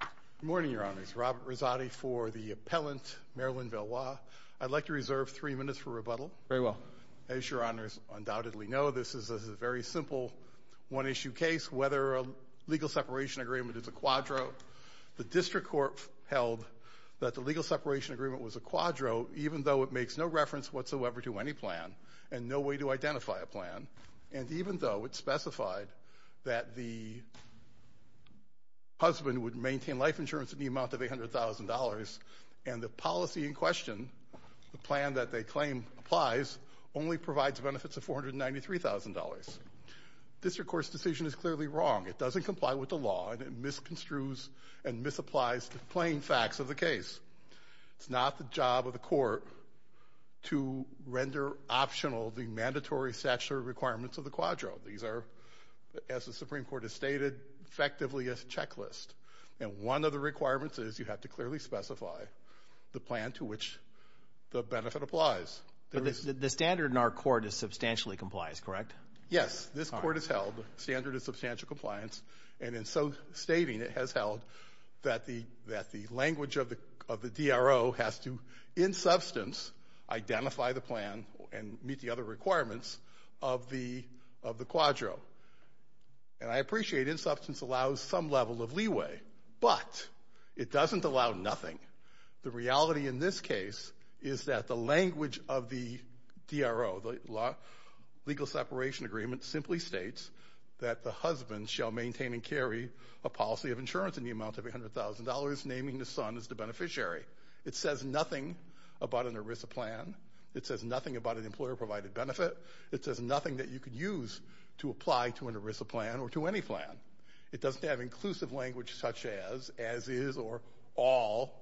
Good morning, Your Honors. Robert Rizzotti for the appellant, Marilyn Valois. I'd like to reserve three minutes for rebuttal. Very well. As Your Honors undoubtedly know, this is a very simple one-issue case, whether a legal separation agreement is a quadro. The district court held that the legal separation agreement was a quadro, even though it makes no reference whatsoever to any plan and no way to identify a plan, and even though it specified that the husband would maintain life insurance in the amount of $800,000 and the policy in question, the plan that they claim applies, only provides benefits of $493,000. The district court's decision is clearly wrong. It doesn't comply with the law, and it misconstrues and misapplies the plain facts of the case. It's not the job of the court to render optional the mandatory statutory requirements of the quadro. These are, as the Supreme Court has stated, effectively a checklist, and one of the requirements is you have to clearly specify the plan to which the benefit applies. But the standard in our court is substantially complies, correct? Yes, this court has held the standard of substantial compliance, and in so stating it has held that the language of the DRO has to, in substance, identify the plan and meet the other requirements of the quadro. And I appreciate in substance allows some level of leeway, but it doesn't allow nothing. The reality in this case is that the language of the DRO, the legal separation agreement, simply states that the husband shall maintain and carry a policy of insurance in the amount of $100,000, naming the son as the beneficiary. It says nothing about an ERISA plan. It says nothing about an employer-provided benefit. It says nothing that you could use to apply to an ERISA plan or to any plan. It doesn't have inclusive language such as, as is, or all,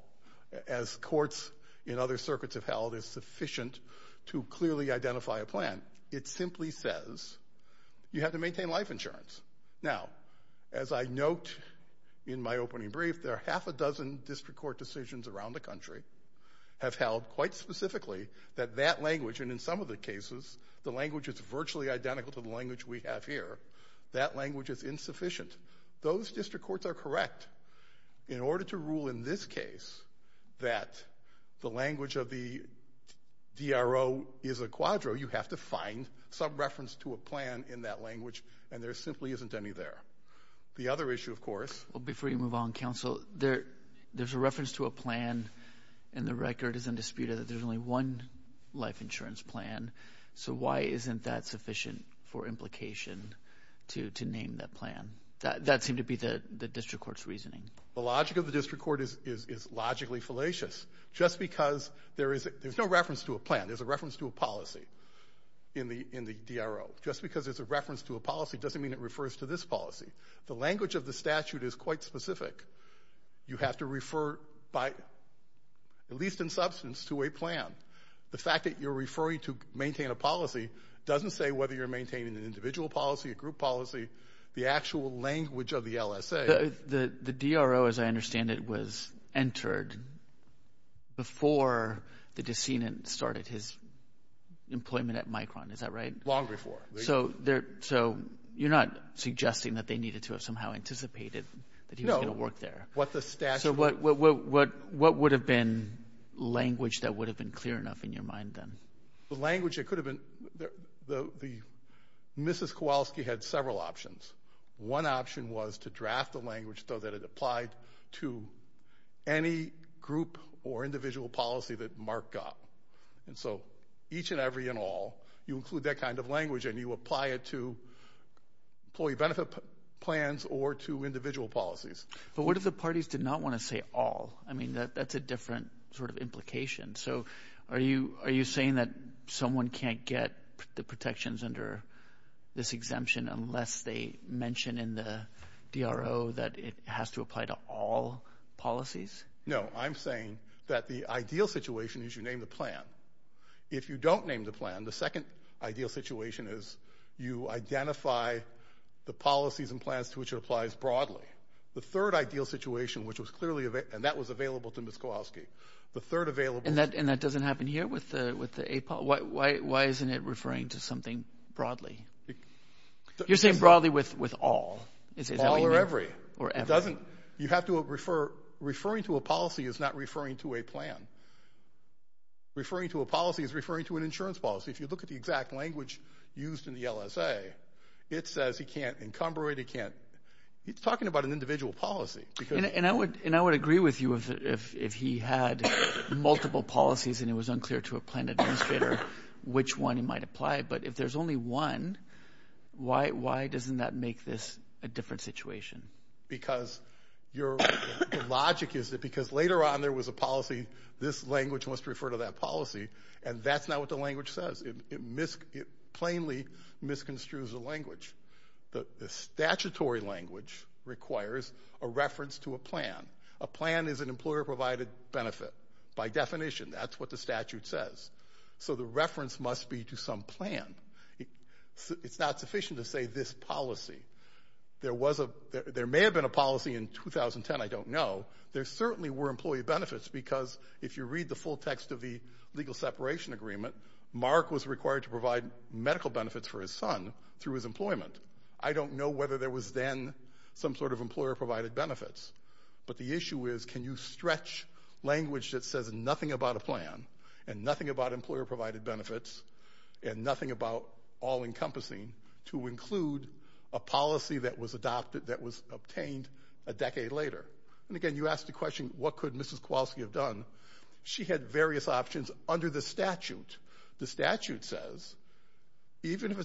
as courts in other circuits have held is sufficient to clearly identify a plan. It simply says you have to maintain life insurance. Now, as I note in my opening brief, there are half a dozen district court decisions around the country have held quite specifically that that language, and in some of the cases the language is virtually identical to the language we have here, that language is insufficient. Those district courts are correct. But in order to rule in this case that the language of the DRO is a quadro, you have to find some reference to a plan in that language, and there simply isn't any there. The other issue, of course ---- Well, before you move on, Counsel, there's a reference to a plan, and the record is undisputed that there's only one life insurance plan. So why isn't that sufficient for implication to name that plan? That seemed to be the district court's reasoning. The logic of the district court is logically fallacious. Just because there's no reference to a plan, there's a reference to a policy in the DRO, just because there's a reference to a policy doesn't mean it refers to this policy. The language of the statute is quite specific. You have to refer, at least in substance, to a plan. The fact that you're referring to maintain a policy doesn't say whether you're maintaining an individual policy, a group policy, the actual language of the LSA. The DRO, as I understand it, was entered before the descenant started his employment at Micron. Is that right? Long before. So you're not suggesting that they needed to have somehow anticipated that he was going to work there. No. So what would have been language that would have been clear enough in your mind then? The language that could have been, Mrs. Kowalski had several options. One option was to draft the language so that it applied to any group or individual policy that Mark got. And so each and every and all, you include that kind of language and you apply it to employee benefit plans or to individual policies. But what if the parties did not want to say all? I mean, that's a different sort of implication. So are you saying that someone can't get the protections under this exemption unless they mention in the DRO that it has to apply to all policies? No. I'm saying that the ideal situation is you name the plan. If you don't name the plan, the second ideal situation is you identify the policies and plans to which it applies broadly. The third ideal situation, which was clearly available, and that was available to Mrs. Kowalski. And that doesn't happen here with the APOL? Why isn't it referring to something broadly? You're saying broadly with all. All or every. It doesn't. You have to refer. Referring to a policy is not referring to a plan. Referring to a policy is referring to an insurance policy. If you look at the exact language used in the LSA, it says he can't encumbrate, he can't. He's talking about an individual policy. And I would agree with you if he had multiple policies and it was unclear to a plan administrator which one he might apply. But if there's only one, why doesn't that make this a different situation? Because your logic is that because later on there was a policy, this language must refer to that policy, and that's not what the language says. It plainly misconstrues the language. The statutory language requires a reference to a plan. A plan is an employer-provided benefit. By definition, that's what the statute says. So the reference must be to some plan. It's not sufficient to say this policy. There may have been a policy in 2010, I don't know. There certainly were employee benefits because if you read the full text of the legal separation agreement, Mark was required to provide medical benefits for his son through his employment. I don't know whether there was then some sort of employer-provided benefits, but the issue is can you stretch language that says nothing about a plan and nothing about employer-provided benefits and nothing about all-encompassing to include a policy that was obtained a decade later? And again, you ask the question, what could Mrs. Kowalski have done? She had various options under the statute. The statute says even if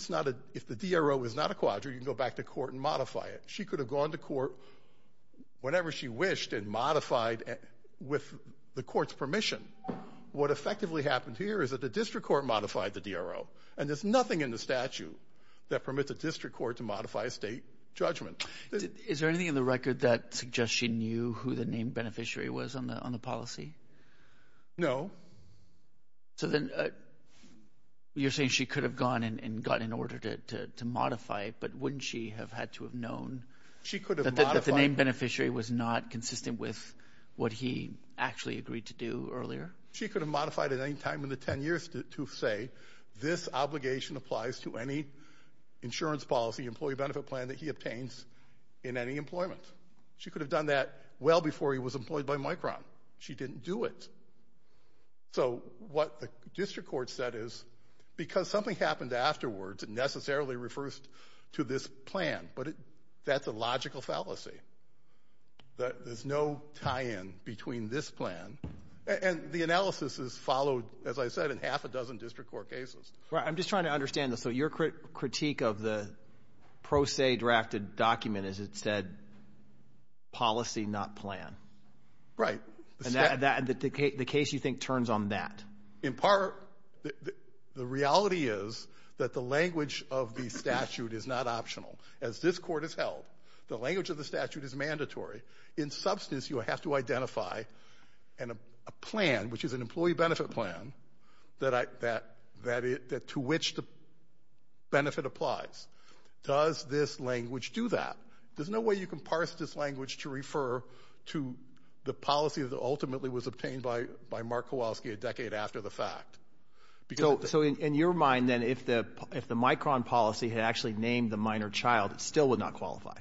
the DRO is not a quadrant, you can go back to court and modify it. She could have gone to court whenever she wished and modified with the court's permission. What effectively happened here is that the district court modified the DRO, and there's nothing in the statute that permits a district court to modify a state judgment. Is there anything in the record that suggests she knew who the named beneficiary was on the policy? No. So then you're saying she could have gone and gotten an order to modify it, but wouldn't she have had to have known that the named beneficiary was not consistent with what he actually agreed to do earlier? She could have modified at any time in the 10 years to say this obligation applies to any insurance policy employee benefit plan that he obtains in any employment. She could have done that well before he was employed by Micron. She didn't do it. So what the district court said is because something happened afterwards, it necessarily refers to this plan, but that's a logical fallacy. There's no tie-in between this plan. And the analysis is followed, as I said, in half a dozen district court cases. I'm just trying to understand this. So your critique of the pro se drafted document is it said policy, not plan? Right. And the case you think turns on that? In part, the reality is that the language of the statute is not optional. As this court has held, the language of the statute is mandatory. In substance, you have to identify a plan, which is an employee benefit plan, to which the benefit applies. Does this language do that? There's no way you can parse this language to refer to the policy that ultimately was obtained by Mark Kowalski a decade after the fact. So in your mind, then, if the Micron policy had actually named the minor child, it still would not qualify?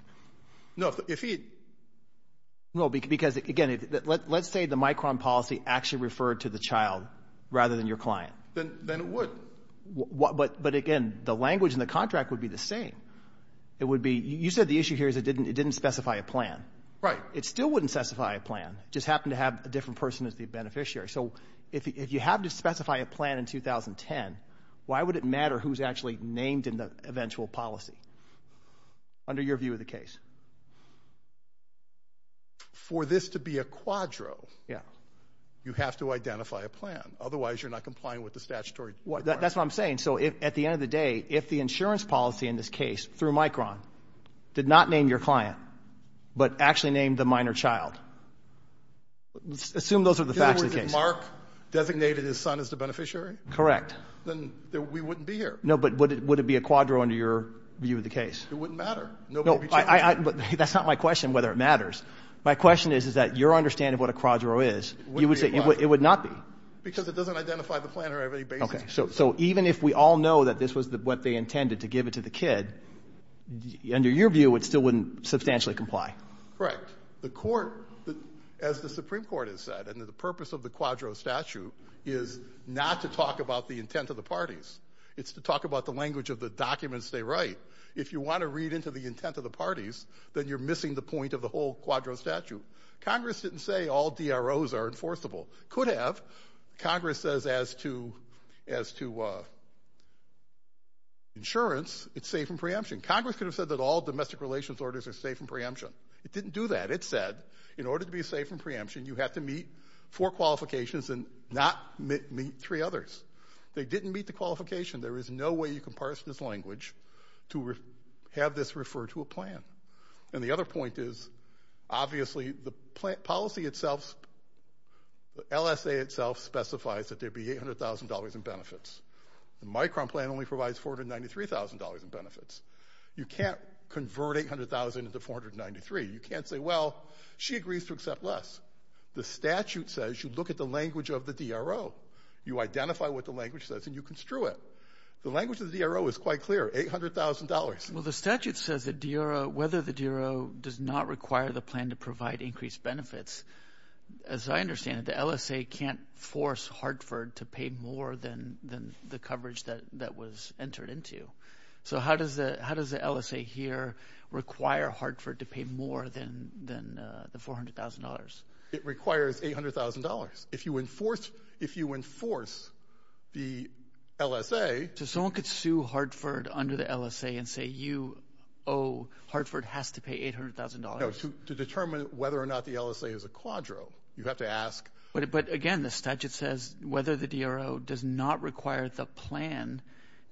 No. Because, again, let's say the Micron policy actually referred to the child rather than your client. Then it would. But, again, the language in the contract would be the same. It would be you said the issue here is it didn't specify a plan. Right. It still wouldn't specify a plan. It just happened to have a different person as the beneficiary. So if you have to specify a plan in 2010, why would it matter who's actually named in the eventual policy? Under your view of the case. For this to be a quadro, you have to identify a plan. Otherwise, you're not complying with the statutory requirement. That's what I'm saying. So at the end of the day, if the insurance policy in this case, through Micron, did not name your client, but actually named the minor child, assume those are the facts of the case. Mark designated his son as the beneficiary? Correct. Then we wouldn't be here. No, but would it be a quadro under your view of the case? It wouldn't matter. That's not my question, whether it matters. My question is, is that your understanding of what a quadro is, you would say it would not be. Because it doesn't identify the plan or have any basis. Okay. So even if we all know that this was what they intended to give it to the kid, under your view, it still wouldn't substantially comply. Correct. The court, as the Supreme Court has said, and the purpose of the quadro statute is not to talk about the intent of the parties. It's to talk about the language of the documents they write. If you want to read into the intent of the parties, then you're missing the point of the whole quadro statute. Congress didn't say all DROs are enforceable. Could have. Congress says as to insurance, it's safe in preemption. Congress could have said that all domestic relations orders are safe in preemption. It didn't do that. It said in order to be safe in preemption, you have to meet four qualifications and not meet three others. They didn't meet the qualification. There is no way you can parse this language to have this refer to a plan. And the other point is, obviously, the policy itself, the LSA itself specifies that there be $800,000 in benefits. The Micron plan only provides $493,000 in benefits. You can't convert $800,000 into $493,000. You can't say, well, she agrees to accept less. The statute says you look at the language of the DRO. You identify what the language says and you construe it. The language of the DRO is quite clear, $800,000. Well, the statute says whether the DRO does not require the plan to provide increased benefits. As I understand it, the LSA can't force Hartford to pay more than the coverage that was entered into. So how does the LSA here require Hartford to pay more than the $400,000? It requires $800,000. If you enforce the LSA. So someone could sue Hartford under the LSA and say, you owe, Hartford has to pay $800,000. No, to determine whether or not the LSA is a quadro. You have to ask. But, again, the statute says whether the DRO does not require the plan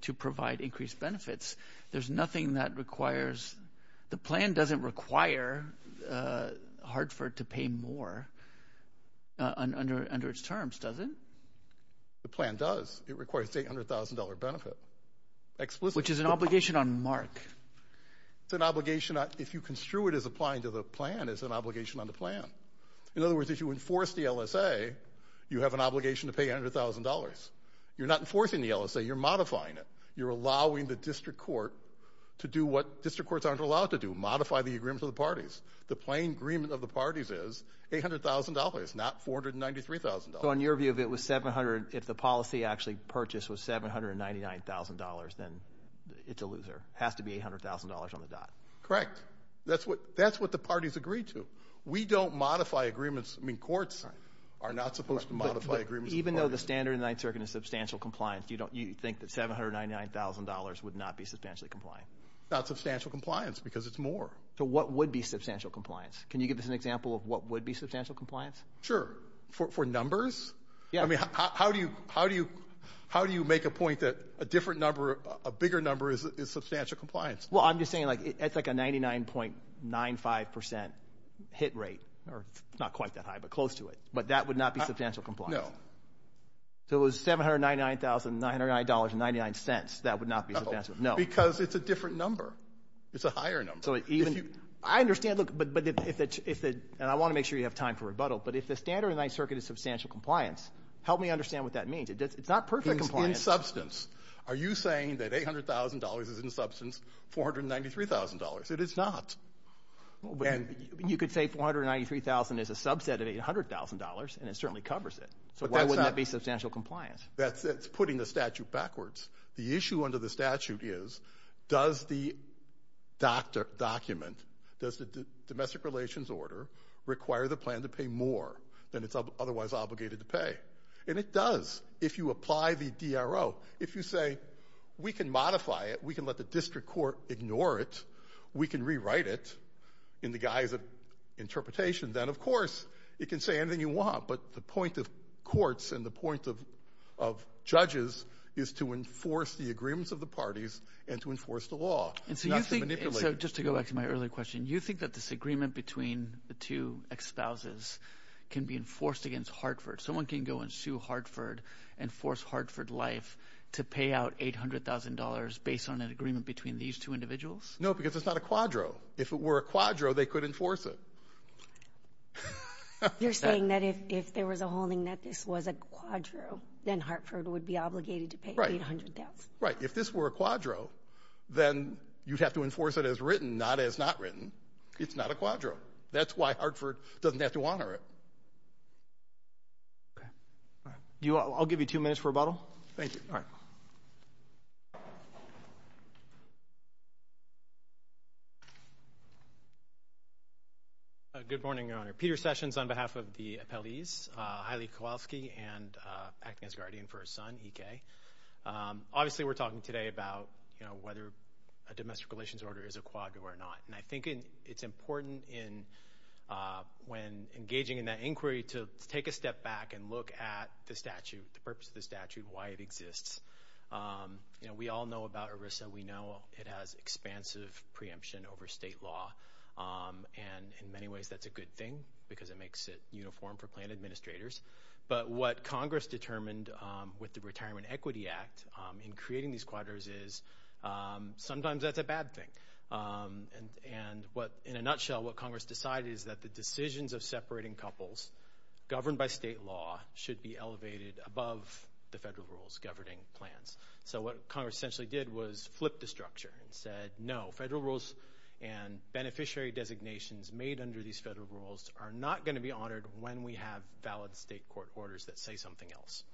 to provide increased benefits. There's nothing that requires. The plan doesn't require Hartford to pay more under its terms, does it? The plan does. It requires the $800,000 benefit explicitly. Which is an obligation on MARC. It's an obligation. If you construe it as applying to the plan, it's an obligation on the plan. In other words, if you enforce the LSA, you have an obligation to pay $100,000. You're not enforcing the LSA. You're modifying it. You're allowing the district court to do what district courts aren't allowed to do, modify the agreements of the parties. The plain agreement of the parties is $800,000, not $493,000. So in your view, if it was 700, if the policy actually purchased was $799,000, then it's a loser. It has to be $800,000 on the dot. Correct. That's what the parties agreed to. We don't modify agreements. I mean, courts are not supposed to modify agreements. Even though the standard in the Ninth Circuit is substantial compliance, you think that $799,000 would not be substantially compliant? Not substantial compliance because it's more. So what would be substantial compliance? Can you give us an example of what would be substantial compliance? Sure. For numbers? Yeah. I mean, how do you make a point that a different number, a bigger number is substantial compliance? Well, I'm just saying, like, it's like a 99.95% hit rate. It's not quite that high, but close to it. But that would not be substantial compliance. No. So it was $799,999.99. That would not be substantial. No. Because it's a different number. It's a higher number. I understand. Look, and I want to make sure you have time for rebuttal. But if the standard in the Ninth Circuit is substantial compliance, help me understand what that means. It's not perfect compliance. Are you saying that $800,000 is in substance, $493,000? It is not. You could say $493,000 is a subset of $800,000, and it certainly covers it. So why wouldn't that be substantial compliance? That's putting the statute backwards. The issue under the statute is does the document, does the domestic relations order, require the plan to pay more than it's otherwise obligated to pay? And it does if you apply the DRO. If you say we can modify it, we can let the district court ignore it, we can rewrite it in the guise of interpretation, then, of course, it can say anything you want. But the point of courts and the point of judges is to enforce the agreements of the parties and to enforce the law, not to manipulate it. And so you think, just to go back to my earlier question, you think that this agreement between the two ex-spouses can be enforced against Hartford? Someone can go and sue Hartford and force Hartford Life to pay out $800,000 based on an agreement between these two individuals? No, because it's not a quadro. If it were a quadro, they could enforce it. You're saying that if there was a holding that this was a quadro, then Hartford would be obligated to pay $800,000? Right. If this were a quadro, then you'd have to enforce it as written, not as not written. It's not a quadro. That's why Hartford doesn't have to honor it. Okay. All right. I'll give you two minutes for rebuttal. Thank you. All right. Good morning, Your Honor. Peter Sessions on behalf of the appellees, Haile Kowalski, and acting as guardian for her son, E.K. Obviously, we're talking today about, you know, whether a domestic relations order is a quadro or not. And I think it's important when engaging in that inquiry to take a step back and look at the statute, the purpose of the statute, why it exists. You know, we all know about ERISA. We know it has expansive preemption over state law. And in many ways, that's a good thing because it makes it uniform for plan administrators. But what Congress determined with the Retirement Equity Act in creating these quadros is sometimes that's a bad thing. And in a nutshell, what Congress decided is that the decisions of separating couples governed by state law should be elevated above the federal rules governing plans. So what Congress essentially did was flip the structure and said, no, federal rules and beneficiary designations made under these federal rules are not going to be honored when we have valid state court orders that say something else.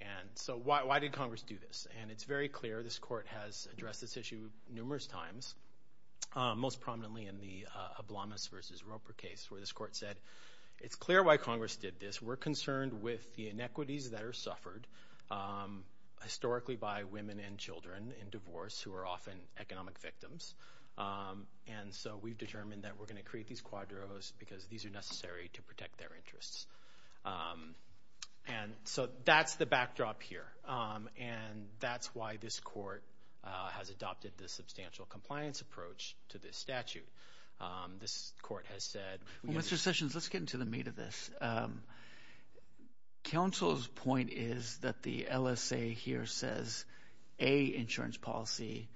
And so why did Congress do this? And it's very clear this court has addressed this issue numerous times, most prominently in the Oblomas v. Roper case where this court said, it's clear why Congress did this. We're concerned with the inequities that are suffered historically by women and children in divorce who are often economic victims. And so we've determined that we're going to create these quadros because these are necessary to protect their interests. And so that's the backdrop here. And that's why this court has adopted the substantial compliance approach to this statute. This court has said- Mr. Sessions, let's get into the meat of this. Counsel's point is that the LSA here says a insurance policy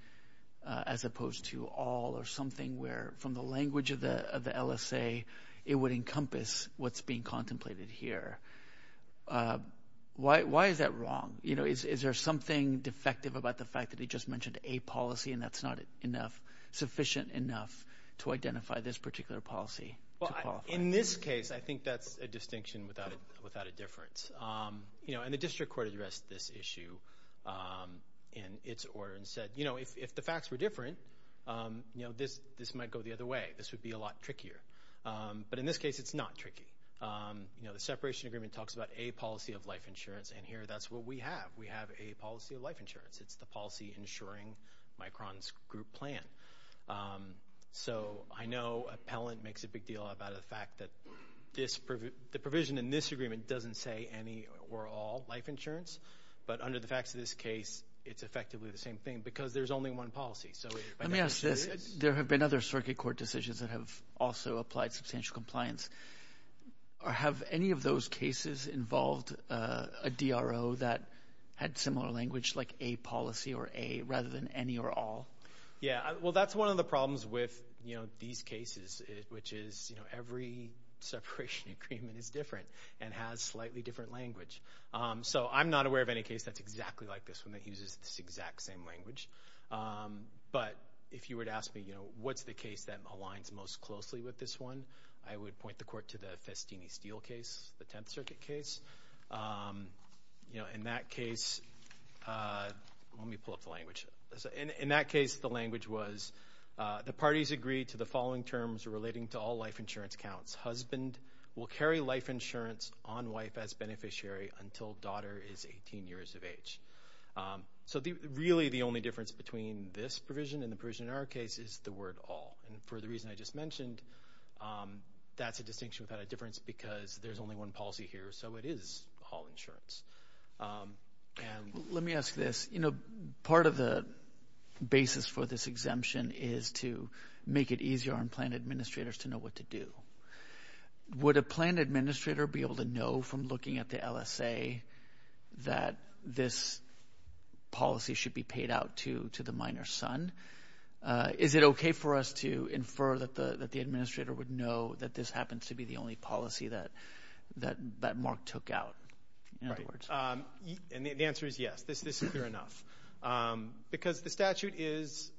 as opposed to all or something where, from the language of the LSA, it would encompass what's being contemplated here. Why is that wrong? Is there something defective about the fact that he just mentioned a policy and that's not sufficient enough to identify this particular policy to qualify? In this case, I think that's a distinction without a difference. And the district court addressed this issue in its order and said, if the facts were different, this might go the other way. This would be a lot trickier. But in this case, it's not tricky. The separation agreement talks about a policy of life insurance, and here that's what we have. We have a policy of life insurance. It's the policy insuring Micron's group plan. So I know appellant makes a big deal about the fact that the provision in this agreement doesn't say any or all life insurance. But under the facts of this case, it's effectively the same thing because there's only one policy. Let me ask this. There have been other circuit court decisions that have also applied substantial compliance. Have any of those cases involved a DRO that had similar language like a policy or a rather than any or all? Yeah, well, that's one of the problems with these cases, which is every separation agreement is different and has slightly different language. So I'm not aware of any case that's exactly like this one that uses this exact same language. But if you were to ask me, you know, what's the case that aligns most closely with this one, I would point the court to the Festini-Steele case, the Tenth Circuit case. You know, in that case, let me pull up the language. In that case, the language was the parties agreed to the following terms relating to all life insurance counts. Husband will carry life insurance on wife as beneficiary until daughter is 18 years of age. So really the only difference between this provision and the provision in our case is the word all. And for the reason I just mentioned, that's a distinction without a difference because there's only one policy here, so it is all insurance. Let me ask this. You know, part of the basis for this exemption is to make it easier on plan administrators to know what to do. Would a plan administrator be able to know from looking at the LSA that this policy should be paid out to the minor's son? Is it okay for us to infer that the administrator would know that this happens to be the only policy that Mark took out? And the answer is yes. This is clear enough. Because the statute is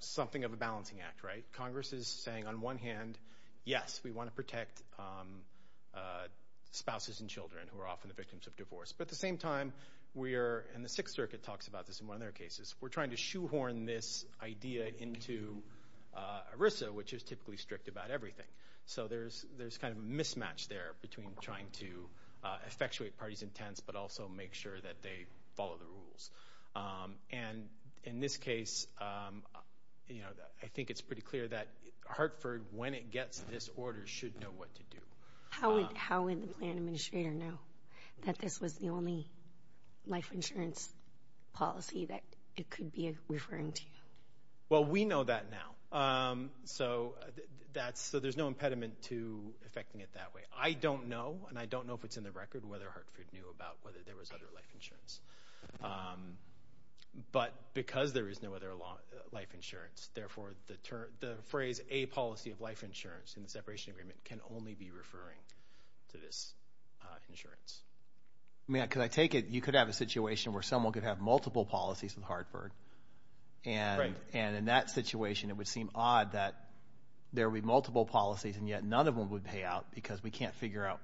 something of a balancing act, right? Congress is saying on one hand, yes, we want to protect spouses and children who are often the victims of divorce. But at the same time, we are, and the Sixth Circuit talks about this in one of their cases, we're trying to shoehorn this idea into ERISA, which is typically strict about everything. So there's kind of a mismatch there between trying to effectuate parties' intents but also make sure that they follow the rules. And in this case, you know, I think it's pretty clear that Hartford, when it gets this order, should know what to do. How would the plan administrator know that this was the only life insurance policy that it could be referring to? Well, we know that now. So there's no impediment to effecting it that way. I don't know, and I don't know if it's in the record, whether Hartford knew about whether there was other life insurance. But because there is no other life insurance, therefore the phrase a policy of life insurance in the separation agreement can only be referring to this insurance. I mean, because I take it you could have a situation where someone could have multiple policies with Hartford. Right. And in that situation, it would seem odd that there would be multiple policies and yet none of them would pay out because we can't figure out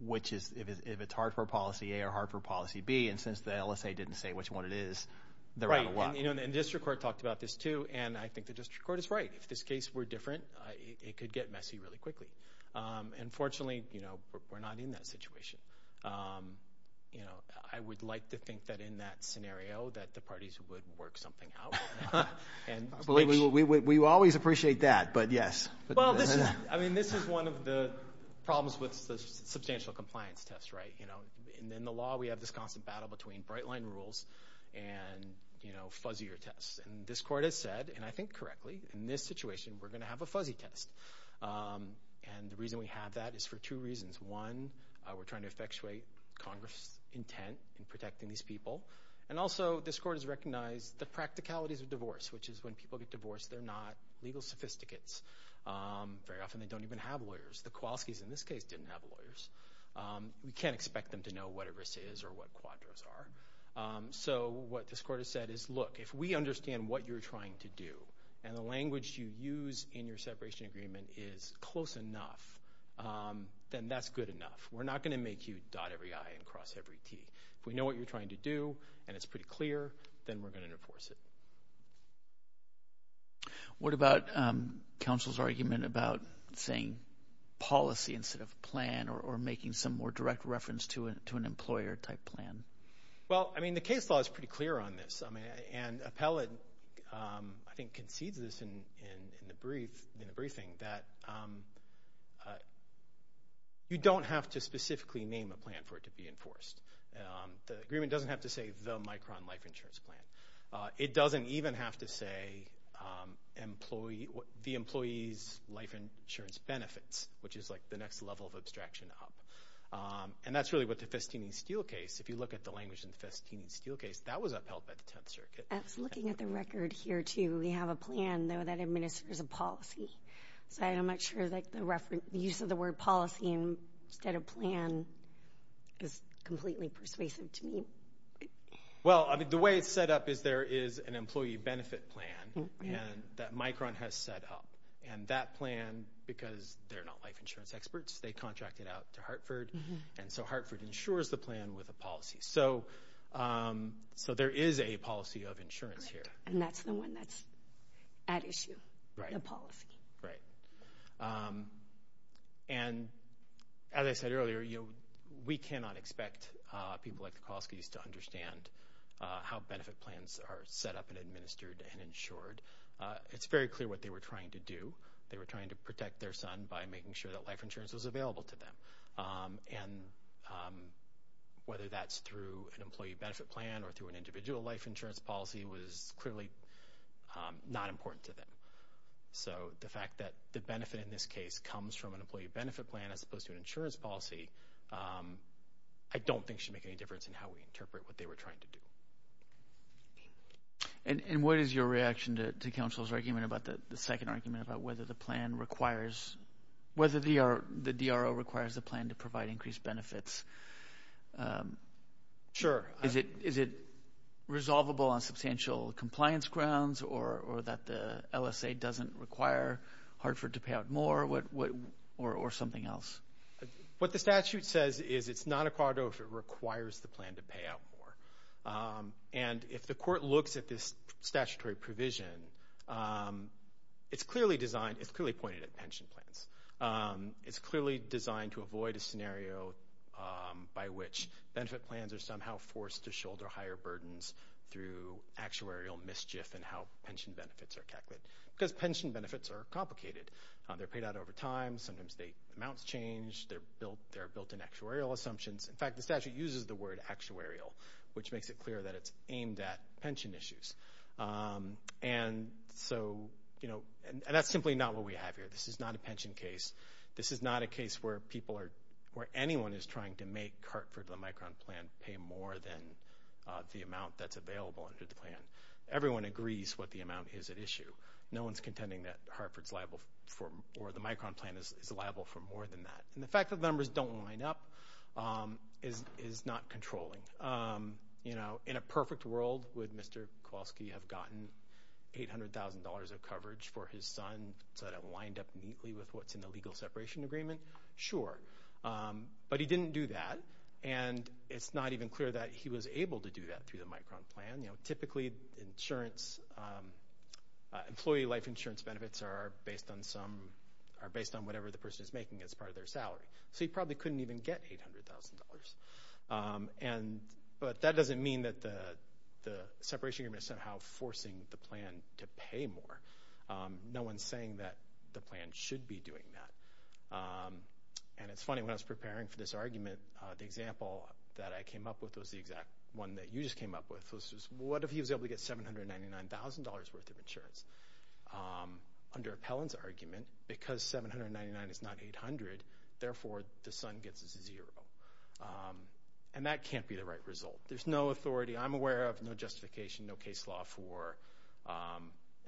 which is, if it's Hartford policy A or Hartford policy B. And since the LSA didn't say which one it is, they're out of luck. And the district court talked about this too, and I think the district court is right. If this case were different, it could get messy really quickly. And fortunately, you know, we're not in that situation. You know, I would like to think that in that scenario that the parties would work something out. We always appreciate that, but yes. Well, I mean, this is one of the problems with the substantial compliance test, right? You know, in the law, we have this constant battle between bright line rules and, you know, fuzzier tests. And this court has said, and I think correctly, in this situation, we're going to have a fuzzy test. And the reason we have that is for two reasons. One, we're trying to effectuate Congress' intent in protecting these people. And also, this court has recognized the practicalities of divorce, which is when people get divorced, they're not legal sophisticates. Very often, they don't even have lawyers. The Kowalskis in this case didn't have lawyers. We can't expect them to know what a risk is or what quadros are. So what this court has said is, look, if we understand what you're trying to do and the language you use in your separation agreement is close enough, then that's good enough. We're not going to make you dot every I and cross every T. If we know what you're trying to do and it's pretty clear, then we're going to enforce it. What about counsel's argument about saying policy instead of plan or making some more direct reference to an employer-type plan? Well, I mean, the case law is pretty clear on this. And Appellate, I think, concedes this in the briefing, that you don't have to specifically name a plan for it to be enforced. The agreement doesn't have to say the Micron life insurance plan. It doesn't even have to say the employee's life insurance benefits, which is like the next level of abstraction up. And that's really what the Festini-Steele case, if you look at the language in the Festini-Steele case, that was upheld by the Tenth Circuit. I was looking at the record here, too. We have a plan, though, that administers a policy. So I'm not sure that the use of the word policy instead of plan is completely persuasive to me. Well, I mean, the way it's set up is there is an employee benefit plan that Micron has set up. And that plan, because they're not life insurance experts, they contract it out to Hartford. And so Hartford insures the plan with a policy. So there is a policy of insurance here. And that's the one that's at issue, the policy. Right. And as I said earlier, we cannot expect people like the Kolskys to understand how benefit plans are set up and administered and insured. It's very clear what they were trying to do. They were trying to protect their son by making sure that life insurance was available to them. And whether that's through an employee benefit plan or through an individual life insurance policy was clearly not important to them. So the fact that the benefit in this case comes from an employee benefit plan as opposed to an insurance policy, I don't think should make any difference in how we interpret what they were trying to do. And what is your reaction to counsel's argument about the second argument about whether the plan requires, whether the DRO requires the plan to provide increased benefits? Sure. Is it resolvable on substantial compliance grounds or that the LSA doesn't require Hartford to pay out more or something else? What the statute says is it's not a corridor if it requires the plan to pay out more. And if the court looks at this statutory provision, it's clearly designed, it's clearly pointed at pension plans. It's clearly designed to avoid a scenario by which benefit plans are somehow forced to shoulder higher burdens through actuarial mischief in how pension benefits are calculated. Because pension benefits are complicated. They're paid out over time. Sometimes the amounts change. They're built in actuarial assumptions. In fact, the statute uses the word actuarial, which makes it clear that it's aimed at pension issues. And so, you know, that's simply not what we have here. This is not a pension case. This is not a case where people are, where anyone is trying to make Hartford, the Micron plan, pay more than the amount that's available under the plan. Everyone agrees what the amount is at issue. No one's contending that Hartford's liable for, or the Micron plan is liable for more than that. And the fact that the numbers don't line up is not controlling. You know, in a perfect world, would Mr. Kowalski have gotten $800,000 of coverage for his son so that it lined up neatly with what's in the legal separation agreement? Sure. But he didn't do that, and it's not even clear that he was able to do that through the Micron plan. You know, typically, insurance, employee life insurance benefits are based on some, are based on whatever the person is making as part of their salary. So he probably couldn't even get $800,000. But that doesn't mean that the separation agreement is somehow forcing the plan to pay more. No one's saying that the plan should be doing that. And it's funny, when I was preparing for this argument, the example that I came up with was the exact one that you just came up with, which was what if he was able to get $799,000 worth of insurance? Under Appellant's argument, because $799,000 is not $800,000, therefore the son gets a zero. And that can't be the right result. There's no authority. I'm aware of no justification, no case law for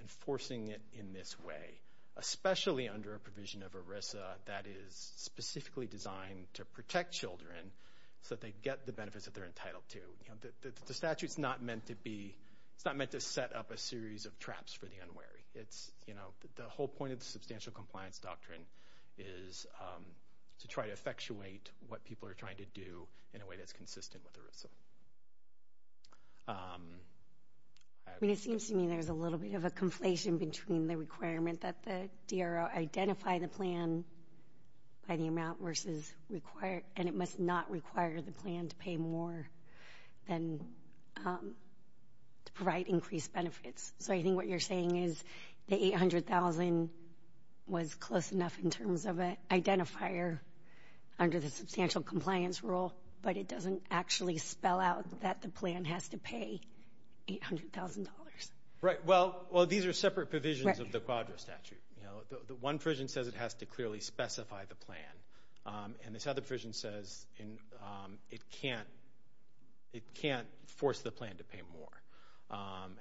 enforcing it in this way, especially under a provision of ERISA that is specifically designed to protect children so that they get the benefits that they're entitled to. The statute's not meant to be, it's not meant to set up a series of traps for the unwary. The whole point of the substantial compliance doctrine is to try to effectuate what people are trying to do in a way that's consistent with ERISA. It seems to me there's a little bit of a conflation between the requirement that the DRO identify the plan by the amount, and it must not require the plan to pay more to provide increased benefits. So I think what you're saying is the $800,000 was close enough in terms of an identifier under the substantial compliance rule, but it doesn't actually spell out that the plan has to pay $800,000. Well, these are separate provisions of the Quadra statute. One provision says it has to clearly specify the plan, and this other provision says it can't force the plan to pay more.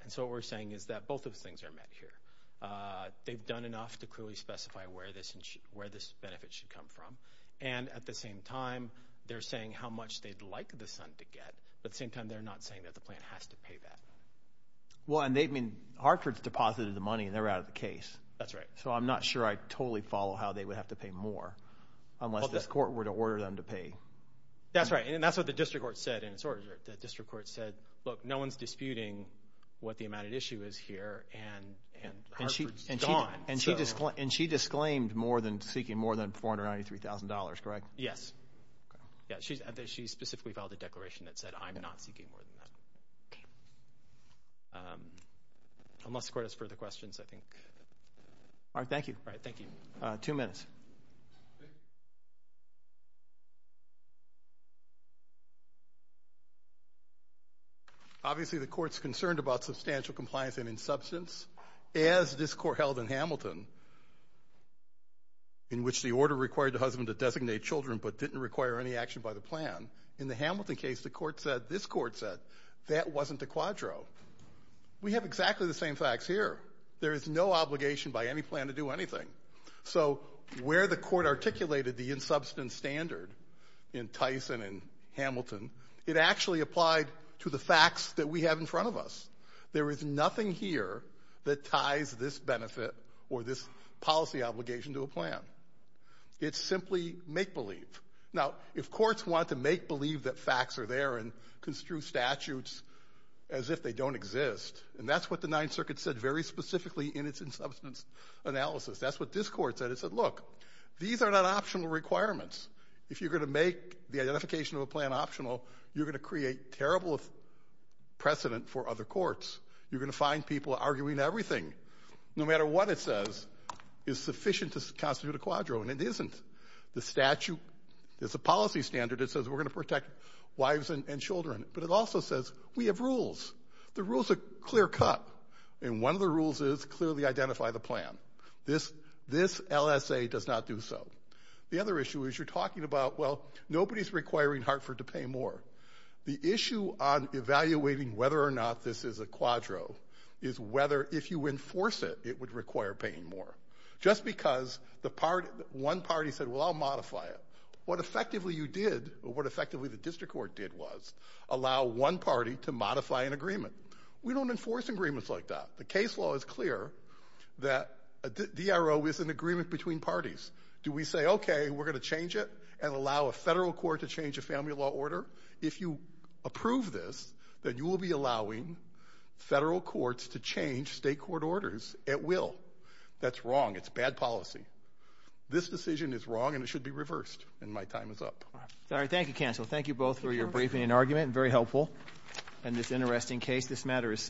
And so what we're saying is that both of those things are met here. They've done enough to clearly specify where this benefit should come from, and at the same time they're saying how much they'd like the son to get, but at the same time they're not saying that the plan has to pay that. Well, and they've been – Hartford's deposited the money, and they're out of the case. That's right. So I'm not sure I totally follow how they would have to pay more unless this court were to order them to pay. That's right, and that's what the district court said in its order. The district court said, look, no one's disputing what the amount at issue is here, and Hartford's gone. And she disclaimed seeking more than $493,000, correct? Yes. She specifically filed a declaration that said, I'm not seeking more than that. Unless the court has further questions, I think. All right, thank you. All right, thank you. Two minutes. Obviously the court's concerned about substantial compliance and insubstance. As this court held in Hamilton, in which the order required the husband to designate children but didn't require any action by the plan, in the Hamilton case the court said, this court said, that wasn't a quadro. We have exactly the same facts here. There is no obligation by any plan to do anything. So where the court articulated the insubstance standard in Tice and in Hamilton, it actually applied to the facts that we have in front of us. There is nothing here that ties this benefit or this policy obligation to a plan. It's simply make-believe. Now, if courts want to make-believe that facts are there and construe statutes as if they don't exist, and that's what the Ninth Circuit said very specifically in its insubstance analysis, that's what this court said. It said, look, these are not optional requirements. If you're going to make the identification of a plan optional, you're going to create terrible precedent for other courts. You're going to find people arguing everything, no matter what it says, is sufficient to constitute a quadro, and it isn't. The statute is a policy standard that says we're going to protect wives and children, but it also says we have rules. The rules are clear-cut, and one of the rules is clearly identify the plan. This LSA does not do so. The other issue is you're talking about, well, nobody's requiring Hartford to pay more. The issue on evaluating whether or not this is a quadro is whether, if you enforce it, it would require paying more. Just because one party said, well, I'll modify it, what effectively you did or what effectively the district court did was allow one party to modify an agreement. We don't enforce agreements like that. The case law is clear that a DRO is an agreement between parties. Do we say, okay, we're going to change it and allow a federal court to change a family law order? If you approve this, then you will be allowing federal courts to change state court orders at will. That's wrong. It's bad policy. This decision is wrong, and it should be reversed, and my time is up. Thank you, counsel. Thank you both for your briefing and argument, and very helpful. And this interesting case, this matter is submitted.